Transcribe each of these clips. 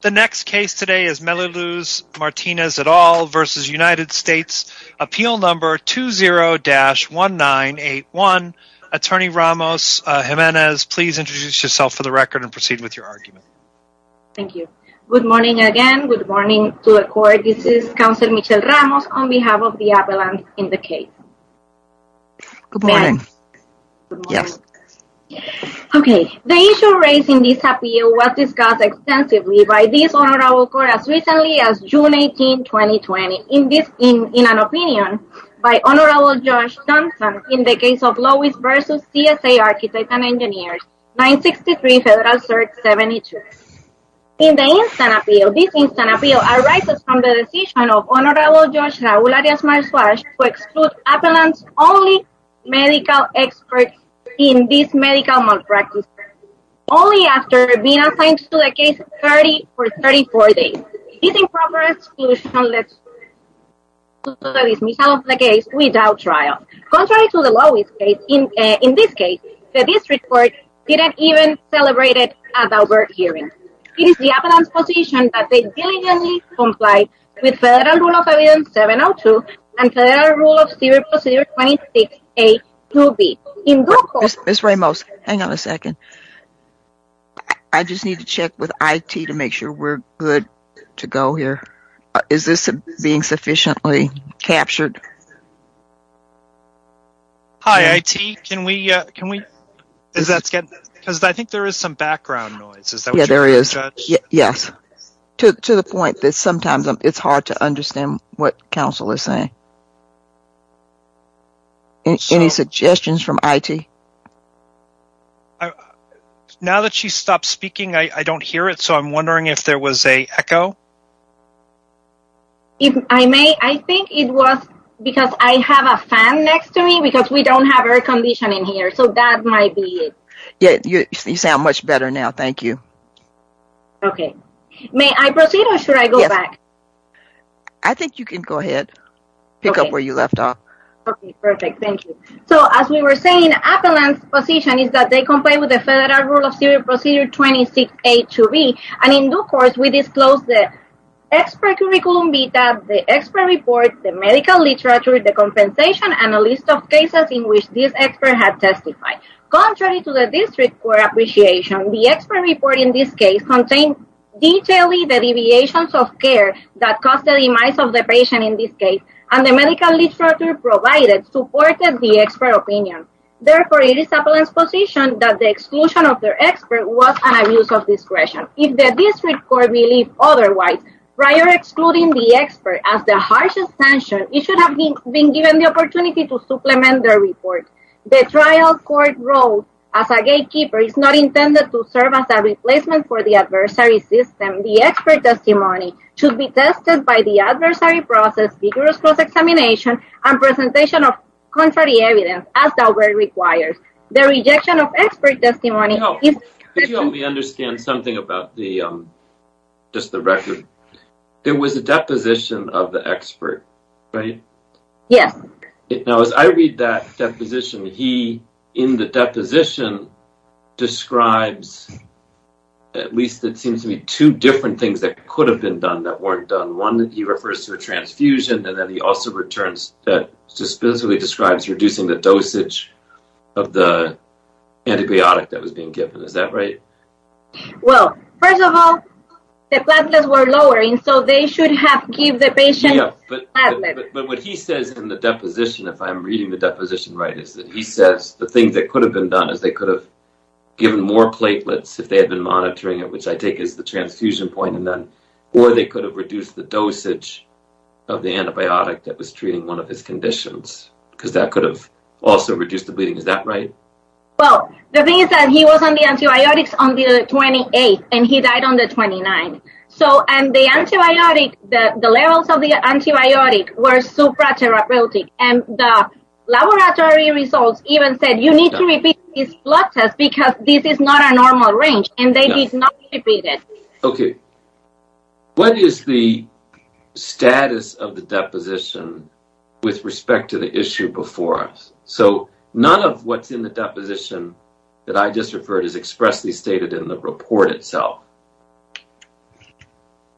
The next case today is Meluluz Martinez et al. v. United States, appeal number 20-1981. Attorney Ramos Jimenez, please introduce yourself for the record and proceed with your argument. Thank you. Good morning again. Good morning to the court. This is counsel Michelle Ramos on behalf of the appellant in the case. Good morning. The issue raised in this appeal was discussed extensively by this Honorable Court as recently as June 18, 2020. In an opinion by Honorable Judge Johnson in the case of Lois v. CSA Architects and Engineers, 963 Federal Cert 72. In the instant appeal, this instant appeal arises from the decision of Honorable Judge Raul Arias-Marswarsh to exclude appellant's only medical expert in this medical malpractice only after being assigned to the case for 34 days. This improper exclusion led to the dismissal of the case without trial. Contrary to the Lois case, in this case, the district court didn't even celebrate it at our hearing. It is the appellant's position that they diligently comply with Federal Rule of Evidence 702 and Federal Rule of Civil Procedure 26A-2B. Ms. Ramos, hang on a second. I just need to check with IT to make sure we're good to go here. Is this being sufficiently captured? Hi, IT. Can we, can we, is that, because I think there is some background noise. Yeah, there is. Yes. To the point that sometimes it's hard to understand what counsel is saying. Any suggestions from IT? Now that she stopped speaking, I don't hear it, so I'm wondering if there was a echo. If I may, I think it was because I have a fan next to me because we don't have air conditioning here, so that might be it. Yeah, you sound much better now. Thank you. Okay. May I proceed or should I go back? I think you can go ahead. Pick up where you left off. Okay, perfect. Thank you. So, as we were saying, Appellant's position is that they comply with the Federal Rule of Civil Procedure 26A-2B, and in due course, we disclose the expert curriculum vitae, the expert report, the medical literature, the compensation, and a list of cases in which this expert has testified. Contrary to the district court appreciation, the expert report in this case contains detailing the deviations of care that caused the demise of the patient in this case, and the medical literature provided supported the expert opinion. Therefore, it is Appellant's position that the exclusion of the expert was an abuse of discretion. If the district court believed otherwise, prior excluding the expert as the harshest sanction, it should have been given the opportunity to supplement their report. The trial court wrote, as a gatekeeper, it is not intended to serve as a replacement for the adversary system. The expert testimony should be tested by the adversary process, vigorous cross-examination, and presentation of contrary evidence, as the award requires. The rejection of expert testimony is… Could you help me understand something about just the record? There was a deposition of the expert, right? Yes. Now, as I read that deposition, he, in the deposition, describes, at least it seems to me, two different things that could have been done that weren't done. One, he refers to a transfusion, and then he also returns, specifically describes reducing the dosage of the antibiotic that was being given. Is that right? Well, first of all, the platelets were lower, and so they should have given the patient platelets. But what he says in the deposition, if I'm reading the deposition right, is that he says the thing that could have been done is they could have given more platelets, if they had been monitoring it, which I take as the transfusion point, or they could have reduced the dosage of the antibiotic that was treating one of his conditions, because that could have also reduced the bleeding. Is that right? Well, the thing is that he was on the antibiotics on the 28th, and he died on the 29th. And the levels of the antibiotic were supratherapeutic, and the laboratory results even said you need to repeat this blood test, because this is not a normal range, and they did not repeat it. Okay. What is the status of the deposition with respect to the issue before us? So, none of what's in the deposition that I just referred is expressly stated in the report itself.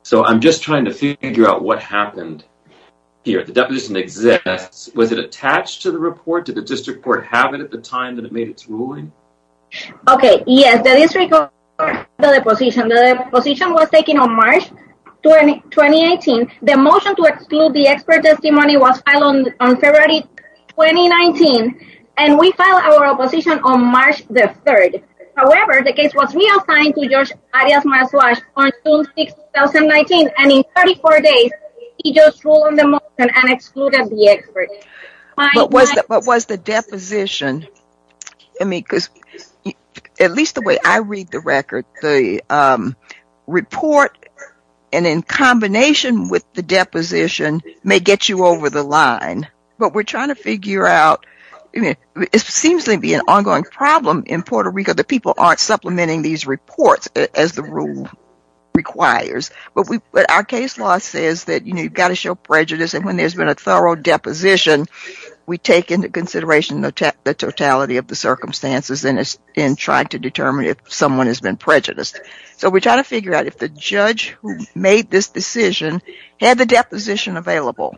So, I'm just trying to figure out what happened here. The deposition exists. Was it attached to the report? Did the district court have it at the time that it made its ruling? Okay. Yes, the district court filed the deposition. The deposition was taken on March 2018. The motion to exclude the expert testimony was filed on February 2019, and we filed our opposition on March the 3rd. However, the case was reassigned to George Arias-Marswash on June 6, 2019, and in 34 days, he just ruled on the motion and excluded the expert. What was the deposition? I mean, because at least the way I read the record, the report, and in combination with the deposition, may get you over the line, but we're trying to figure out, I mean, it seems to be an ongoing problem in Puerto Rico that people aren't supplementing these reports as the rule requires, but our case law says that, you know, you've got to show prejudice, and when there's been a thorough deposition, we take into consideration the totality of the circumstances in trying to determine if someone has been prejudiced. So we're trying to figure out if the judge who made this decision had the deposition available.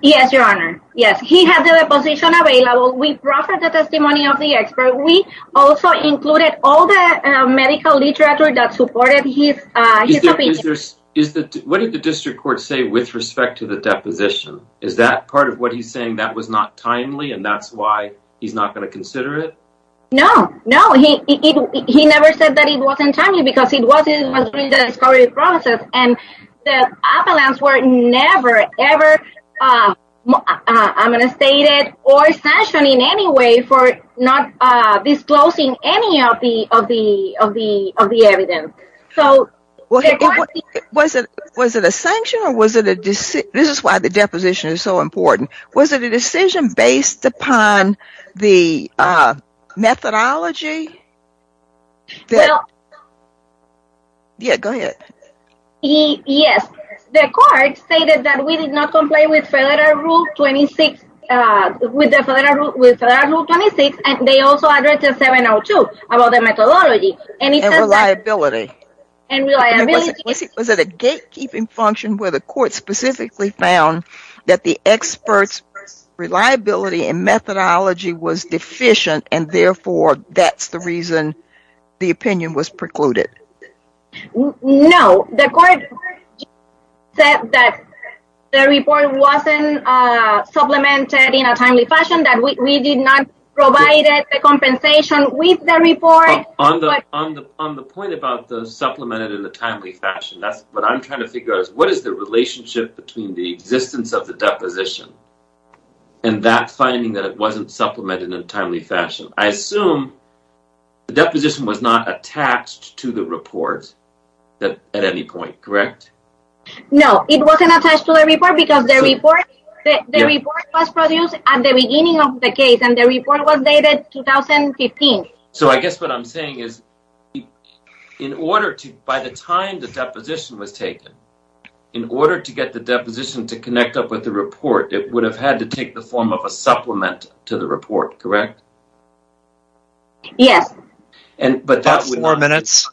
Yes, Your Honor. Yes, he had the deposition available. We proffered the testimony of the expert. We also included all the medical literature that supported his opinion. What did the district court say with respect to the deposition? Is that part of what he's saying that was not timely, and that's why he's not going to consider it? No, no, he never said that it wasn't timely because it was in the discovery process, and the appellants were never, ever, I'm going to state it, or sanctioned in any way for not disclosing any of the evidence. Was it a sanction, or was it a decision? This is why the deposition is so important. Was it a decision based upon the methodology? Well... Yeah, go ahead. Yes, the court stated that we did not complain with Federal Rule 26, with Federal Rule 26, and they also addressed 702 about the methodology. And reliability. Was it a gatekeeping function where the court specifically found that the expert's reliability and methodology was deficient, and therefore that's the reason the opinion was precluded? No, the court said that the report wasn't supplemented in a timely fashion, that we did not provide the compensation with the report. On the point about the supplemented in a timely fashion, what I'm trying to figure out is what is the relationship between the existence of the deposition and that finding that it wasn't supplemented in a timely fashion. I assume the deposition was not attached to the report at any point, correct? No, it wasn't attached to the report because the report was produced at the beginning of the case, and the report was dated 2015. So I guess what I'm saying is, by the time the deposition was taken, in order to get the deposition to connect up with the report, it would have had to take the form of a supplement to the report, correct? Yes. About four minutes.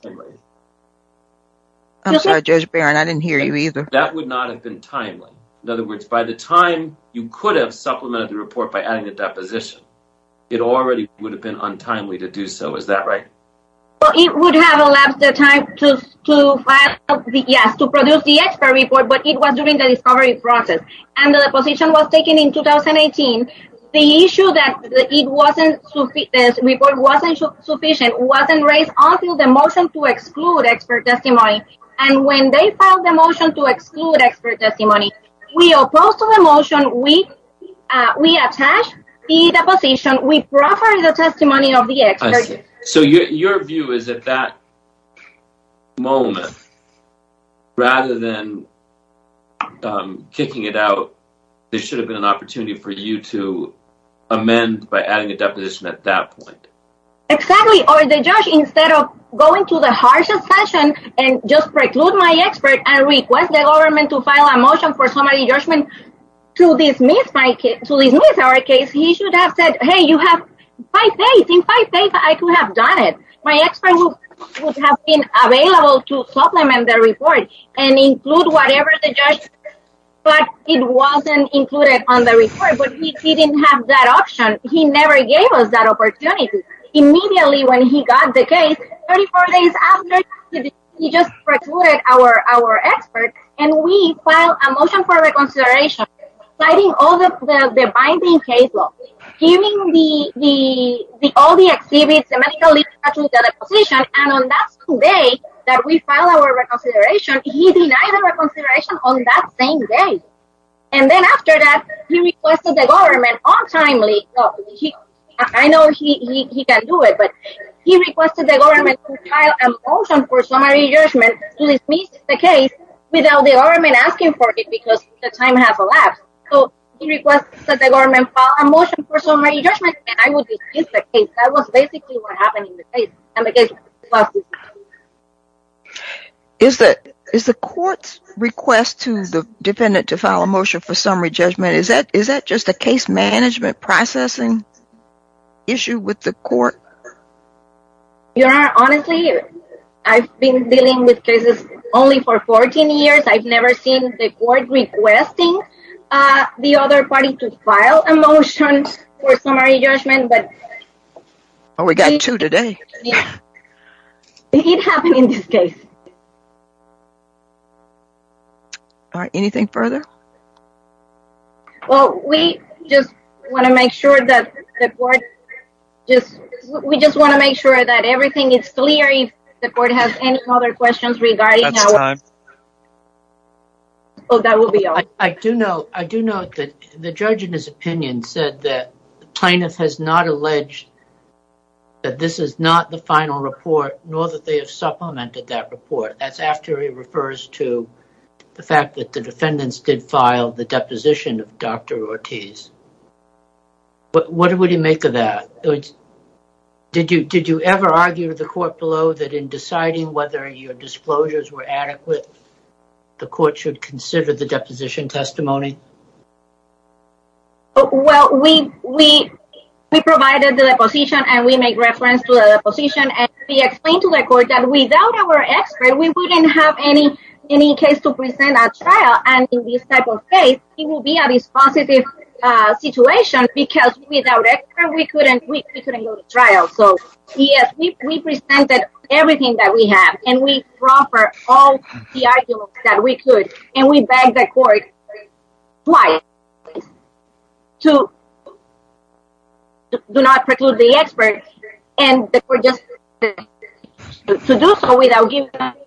I'm sorry, Judge Barron, I didn't hear you either. That would not have been timely. In other words, by the time you could have supplemented the report by adding the deposition, it already would have been untimely to do so. Is that right? Well, it would have elapsed the time to produce the expert report, but it was during the discovery process. And the deposition was taken in 2018. The issue that the report wasn't sufficient wasn't raised until the motion to exclude expert testimony. And when they filed the motion to exclude expert testimony, we opposed to the motion, we attached the deposition, we proffered the testimony of the expert. I see. So your view is that that moment, rather than kicking it out, there should have been an opportunity for you to amend by adding a deposition at that point. Exactly. Or the judge, instead of going to the harshest session and just preclude my expert and request the government to file a motion for summary judgment to dismiss our case, he should have said, hey, you have five days. In five days, I could have done it. My expert would have been available to supplement the report and include whatever the judge said, but it wasn't included on the report. But he didn't have that option. He never gave us that opportunity. Immediately when he got the case, 34 days after, he just precluded our expert, and we filed a motion for reconsideration, citing all the binding case law, giving all the exhibits, the medical literature, the deposition, and on that same day that we filed our reconsideration, he denied the reconsideration on that same day. And then after that, he requested the government, I know he can do it, but he requested the government to file a motion for summary judgment to dismiss the case without the government asking for it because the time has elapsed. So he requested that the government file a motion for summary judgment, and I would dismiss the case. That was basically what happened in the case. Is the court's request to the defendant to file a motion for summary judgment, is that just a case management processing issue with the court? Your Honor, honestly, I've been dealing with cases only for 14 years. I've never seen the court requesting the other party to file a motion for summary judgment. Oh, we got two today. It happened in this case. All right, anything further? Well, we just want to make sure that the court, we just want to make sure that everything is clear. If the court has any other questions regarding how... That's time. Oh, that will be all. I do know that the judge in his opinion said that the plaintiff has not alleged that this is not the final report, nor that they have supplemented that report. That's after he refers to the fact that the defendants did file the deposition of Dr. Ortiz. What would he make of that? Did you ever argue with the court below that in deciding whether your disclosures were adequate, the court should consider the deposition testimony? Well, we provided the deposition, and we made reference to the deposition, and we explained to the court that without our expert, we wouldn't have any case to present at trial, and in this type of case, it will be a dispositive situation, because without expert, we couldn't go to trial. So, yes, we presented everything that we have, and we brought forth all the arguments that we could, and we begged the court twice to not preclude the expert, and the court just refused to do so without giving evidence.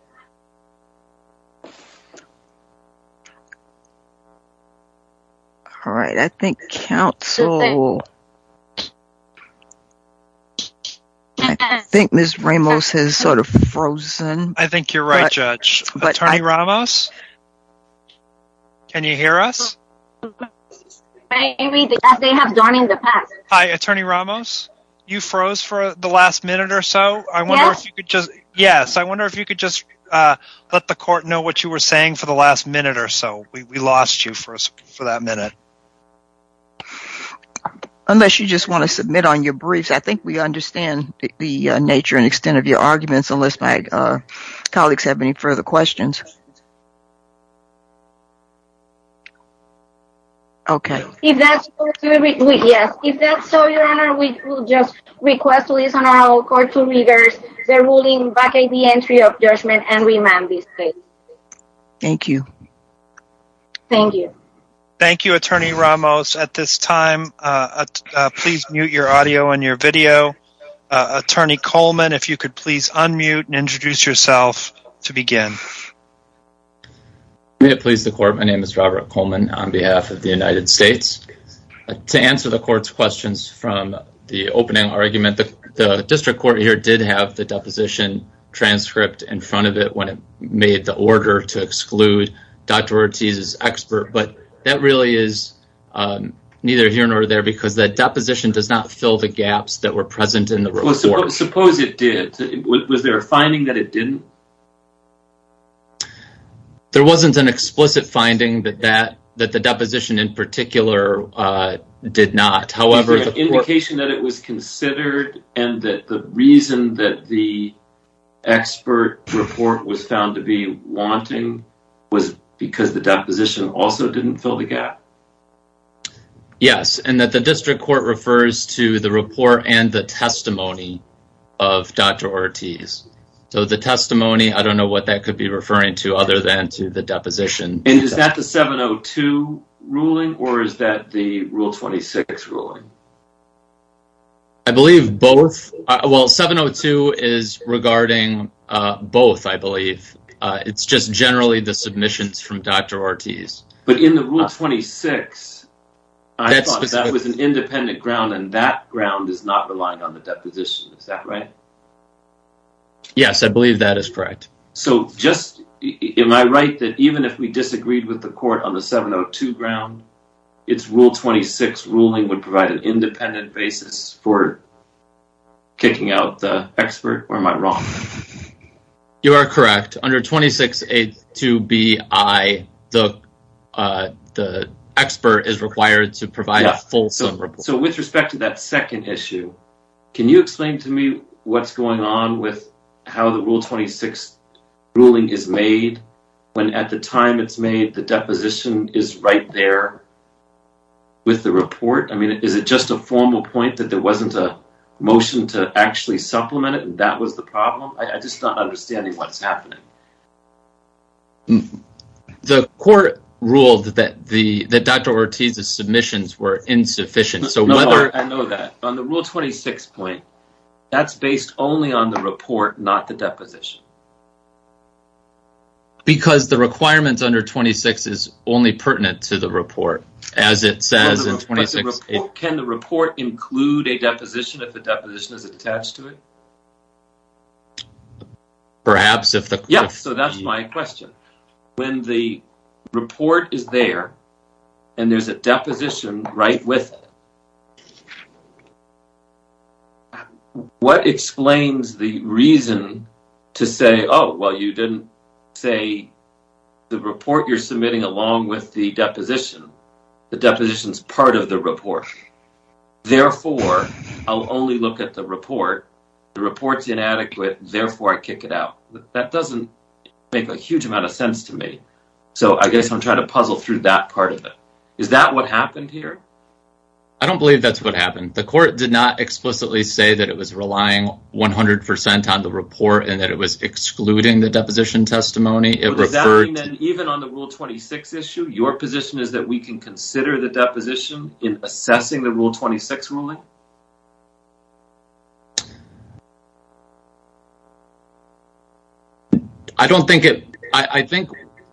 I think Ms. Ramos has sort of frozen. I think you're right, Judge. Attorney Ramos, can you hear us? Maybe, as they have done in the past. Hi, Attorney Ramos, you froze for the last minute or so. Yes. Yes, I wonder if you could just let the court know what you were saying for the last minute or so. We lost you for that minute. Unless you just want to submit on your briefs, I think we understand the nature and extent of your arguments, unless my colleagues have any further questions. Okay. Yes. If that's so, Your Honor, we will just request to listen to our court to readers. They're ruling back the entry of judgment and remand this case. Thank you. Thank you. Thank you, Attorney Ramos. At this time, please mute your audio and your video. Attorney Coleman, if you could please unmute and introduce yourself to begin. May it please the court, my name is Robert Coleman on behalf of the United States. To answer the court's questions from the opening argument, the district court here did have the deposition transcript in front of it when it made the order to exclude Dr. Ortiz's expert, but that really is neither here nor there because that deposition does not fill the gaps that were present in the report. Suppose it did. Was there a finding that it didn't? There wasn't an explicit finding that the deposition in particular did not. Is there an indication that it was considered and that the reason that the expert report was found to be wanting was because the deposition also didn't fill the gap? Yes, and that the district court refers to the report and the testimony of Dr. Ortiz. So the testimony, I don't know what that could be referring to other than to the deposition. And is that the 702 ruling or is that the Rule 26 ruling? I believe both. Well, 702 is regarding both, I believe. It's just generally the submissions from Dr. Ortiz. But in the Rule 26, I thought that was an independent ground and that ground is not relying on the deposition. Is that right? Yes, I believe that is correct. So just am I right that even if we disagreed with the court on the 702 ground, it's Rule 26 ruling would provide an independent basis for kicking out the expert or am I wrong? You are correct. Under 26.82bi, the expert is required to provide a full summary. So with respect to that second issue, can you explain to me what's going on with how the Rule 26 ruling is made? When at the time it's made, the deposition is right there with the report. I mean, is it just a formal point that there wasn't a motion to actually supplement it and that was the problem? I just don't understand what's happening. The court ruled that Dr. Ortiz's submissions were insufficient. No, I know that. On the Rule 26 point, that's based only on the report, not the deposition. Because the requirements under 26 is only pertinent to the report, as it says in 26.82bi. Can the report include a deposition if the deposition is attached to it? Perhaps. Yes, so that's my question. When the report is there and there's a deposition right with it, what explains the reason to say, oh, well, you didn't say the report you're submitting along with the deposition. The deposition is part of the report. Therefore, I'll only look at the report. The report's inadequate. Therefore, I kick it out. That doesn't make a huge amount of sense to me. So I guess I'm trying to puzzle through that part of it. Is that what happened here? I don't believe that's what happened. The court did not explicitly say that it was relying 100% on the report and that it was excluding the deposition testimony. Even on the Rule 26 issue, your position is that we can consider the deposition in assessing the Rule 26 ruling? I don't think it. I think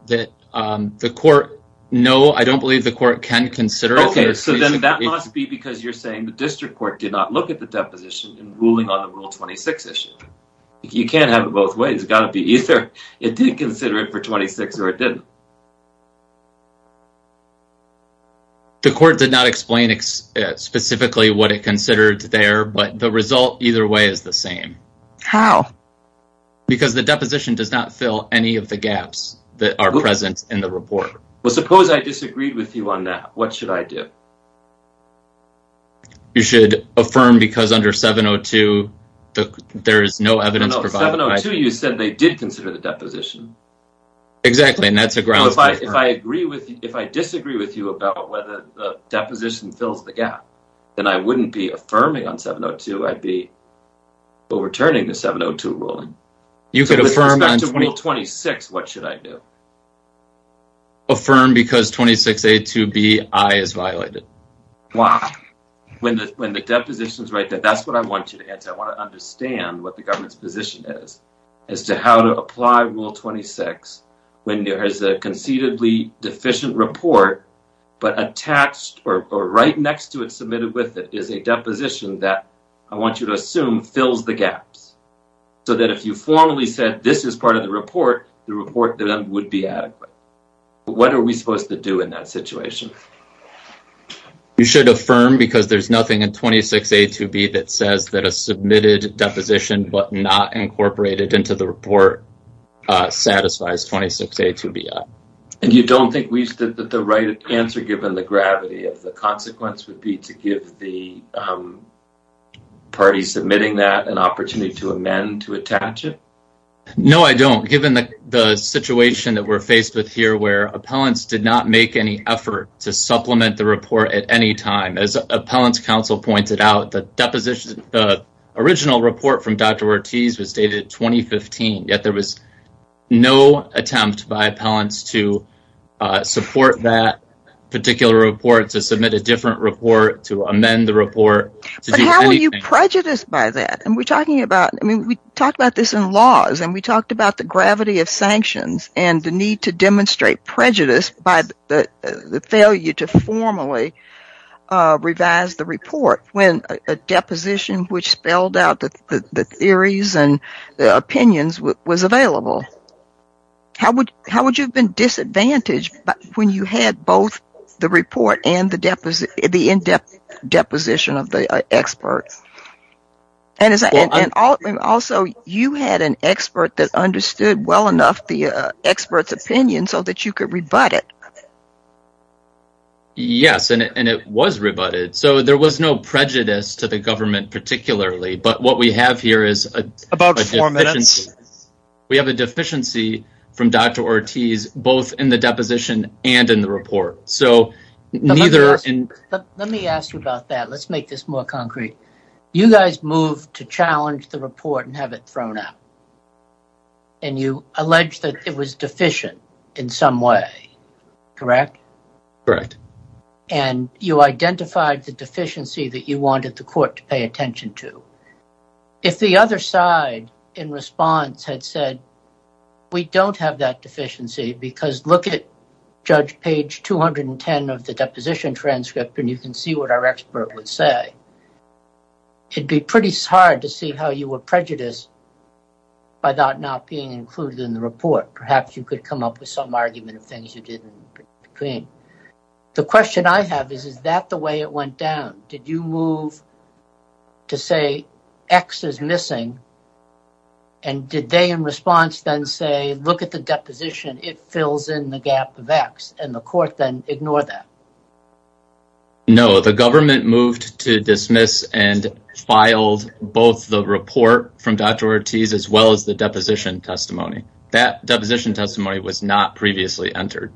that the court. No, I don't believe the court can consider it. So then that must be because you're saying the district court did not look at the deposition in ruling on the Rule 26 issue. You can't have it both ways. It's got to be either it did consider it for 26 or it didn't. The court did not explain specifically what it considered there, but the result either way is the same. How? Because the deposition does not fill any of the gaps that are present in the report. Well, suppose I disagreed with you on that. What should I do? You should affirm because under 702, there is no evidence. No, 702 you said they did consider the deposition. Exactly, and that's a grounds matter. If I disagree with you about whether the deposition fills the gap, then I wouldn't be affirming on 702. I'd be overturning the 702 ruling. With respect to Rule 26, what should I do? Affirm because 26A2BI is violated. Why? When the deposition is right there, that's what I want you to answer. I want to understand what the government's position is as to how to apply Rule 26 when there is a conceivably deficient report, but attached or right next to it, submitted with it, is a deposition that I want you to assume fills the gaps. So that if you formally said this is part of the report, the report then would be adequate. What are we supposed to do in that situation? You should affirm because there's nothing in 26A2B that says that a submitted deposition, but not incorporated into the report, satisfies 26A2BI. And you don't think that the right answer, given the gravity of the consequence, would be to give the party submitting that an opportunity to amend to attach it? No, I don't. Given the situation that we're faced with here where appellants did not make any effort to supplement the report at any time. As Appellants Council pointed out, the original report from Dr. Ortiz was dated 2015, yet there was no attempt by appellants to support that particular report, to submit a different report, to amend the report. But how are you prejudiced by that? We talked about this in laws, and we talked about the gravity of sanctions and the need to demonstrate prejudice by the failure to formally revise the report when a deposition which spelled out the theories and opinions was available. How would you have been disadvantaged when you had both the report and the in-depth deposition of the expert? And also, you had an expert that understood well enough the expert's opinion so that you could rebut it. Yes, and it was rebutted. So there was no prejudice to the government particularly, but what we have here is a deficiency. About four minutes. We have a deficiency from Dr. Ortiz both in the deposition and in the report. Let me ask you about that. Let's make this more concrete. You guys moved to challenge the report and have it thrown out. And you alleged that it was deficient in some way, correct? Correct. And you identified the deficiency that you wanted the court to pay attention to. If the other side in response had said, we don't have that deficiency because look at Judge Page 210 of the deposition transcript and you can see what our expert would say, it'd be pretty hard to see how you were prejudiced by that not being included in the report. Perhaps you could come up with some argument of things you did in between. The question I have is, is that the way it went down? Did you move to say X is missing? And did they in response then say, look at the deposition. It fills in the gap of X. And the court then ignored that? No, the government moved to dismiss and filed both the report from Dr. Ortiz as well as the deposition testimony. That deposition testimony was not previously entered.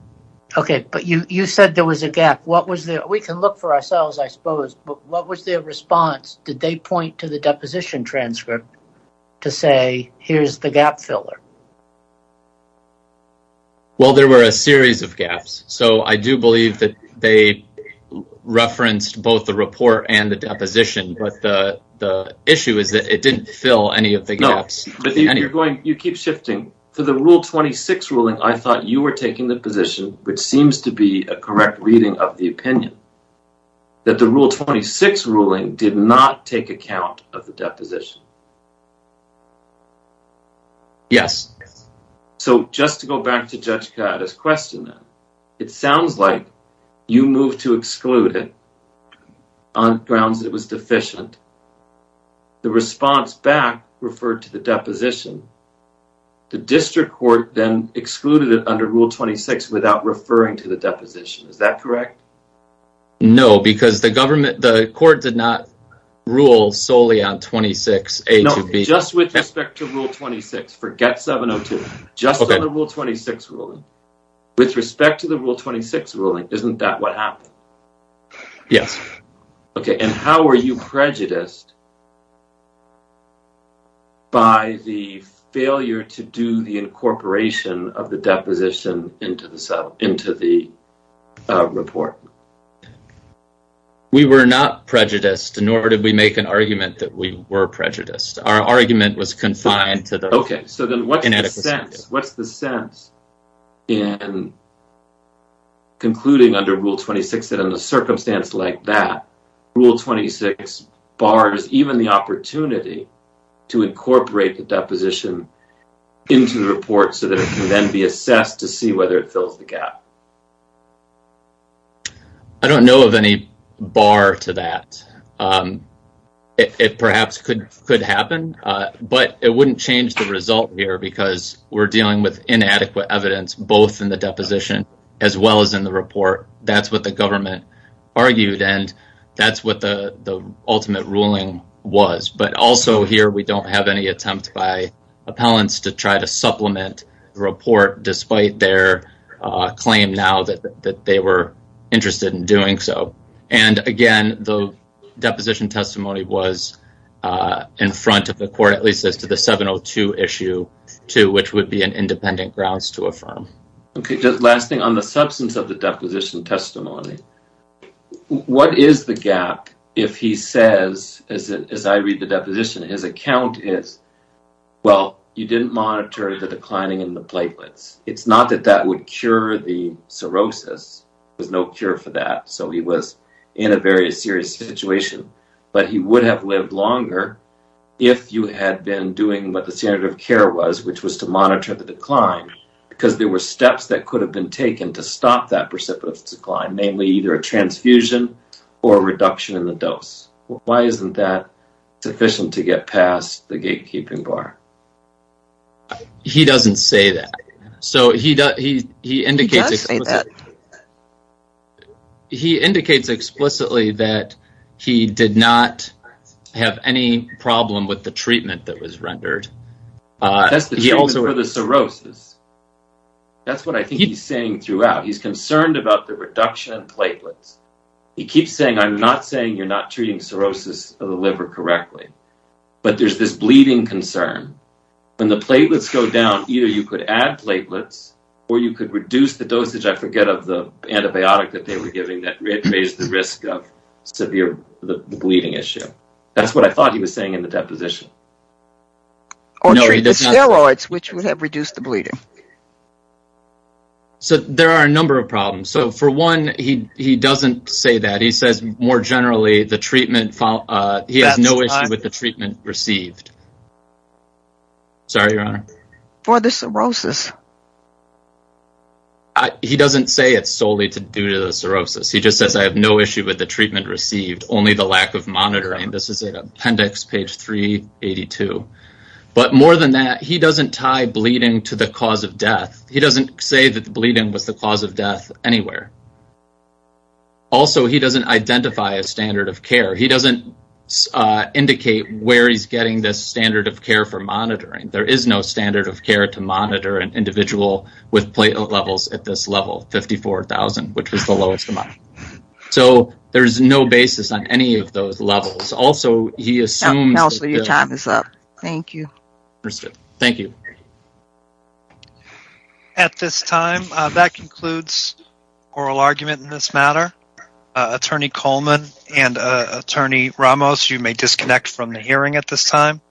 Okay, but you said there was a gap. We can look for ourselves, I suppose. What was their response? Did they point to the deposition transcript to say, here's the gap filler? Well, there were a series of gaps. So I do believe that they referenced both the report and the deposition. But the issue is that it didn't fill any of the gaps. No, but you keep shifting. For the Rule 26 ruling, I thought you were taking the position, which seems to be a correct reading of the opinion, that the Rule 26 ruling did not take account of the deposition. Yes. So just to go back to Judge Ciatta's question then, it sounds like you moved to exclude it on grounds that it was deficient. The response back referred to the deposition. The district court then excluded it under Rule 26 without referring to the deposition. Is that correct? No, because the court did not rule solely on 26A to B. No, just with respect to Rule 26. Forget 702. Just on the Rule 26 ruling, with respect to the Rule 26 ruling, isn't that what happened? Yes. Okay, and how were you prejudiced by the failure to do the incorporation of the deposition into the report? We were not prejudiced, nor did we make an argument that we were prejudiced. Our argument was confined to the inadequacy. Okay, so then what's the sense in concluding under Rule 26 that in a circumstance like that, Rule 26 bars even the opportunity to incorporate the deposition into the report so that it can then be assessed to see whether it fills the gap? I don't know of any bar to that. It perhaps could happen, but it wouldn't change the result here because we're dealing with inadequate evidence, both in the deposition as well as in the report. That's what the government argued, and that's what the ultimate ruling was. But also here we don't have any attempt by appellants to try to supplement the report despite their claim now that they were interested in doing so. And, again, the deposition testimony was in front of the court, at least as to the 702 Issue 2, which would be an independent grounds to affirm. Last thing, on the substance of the deposition testimony, what is the gap if he says, as I read the deposition, his account is, well, you didn't monitor the declining in the platelets. It's not that that would cure the cirrhosis. There's no cure for that, so he was in a very serious situation. But he would have lived longer if you had been doing what the standard of care was, which was to monitor the decline because there were steps that could have been taken to stop that precipitous decline, namely either a transfusion or a reduction in the dose. Why isn't that sufficient to get past the gatekeeping bar? He doesn't say that. He does say that. He indicates explicitly that he did not have any problem with the treatment that was rendered. That's the treatment for the cirrhosis. That's what I think he's saying throughout. He's concerned about the reduction in platelets. He keeps saying, I'm not saying you're not treating cirrhosis of the liver correctly, but there's this bleeding concern. When the platelets go down, either you could add platelets or you could reduce the dosage, I forget, of the antibiotic that they were giving that raised the risk of severe bleeding issue. That's what I thought he was saying in the deposition. Or treat the steroids, which would have reduced the bleeding. There are a number of problems. For one, he doesn't say that. He says, more generally, he has no issue with the treatment received. Sorry, Your Honor. For the cirrhosis. He doesn't say it's solely due to the cirrhosis. He just says, I have no issue with the treatment received, only the lack of monitoring. This is appendix page 382. But more than that, he doesn't tie bleeding to the cause of death. He doesn't say that the bleeding was the cause of death anywhere. Also, he doesn't identify a standard of care. He doesn't indicate where he's getting this standard of care for monitoring. There is no standard of care to monitor an individual with platelet levels at this level, 54,000, which is the lowest amount. So, there's no basis on any of those levels. Also, he assumes that the... Counselor, your time is up. Thank you. Understood. Thank you. At this time, that concludes oral argument in this matter. Attorney Coleman and Attorney Ramos, you may disconnect from the hearing at this time.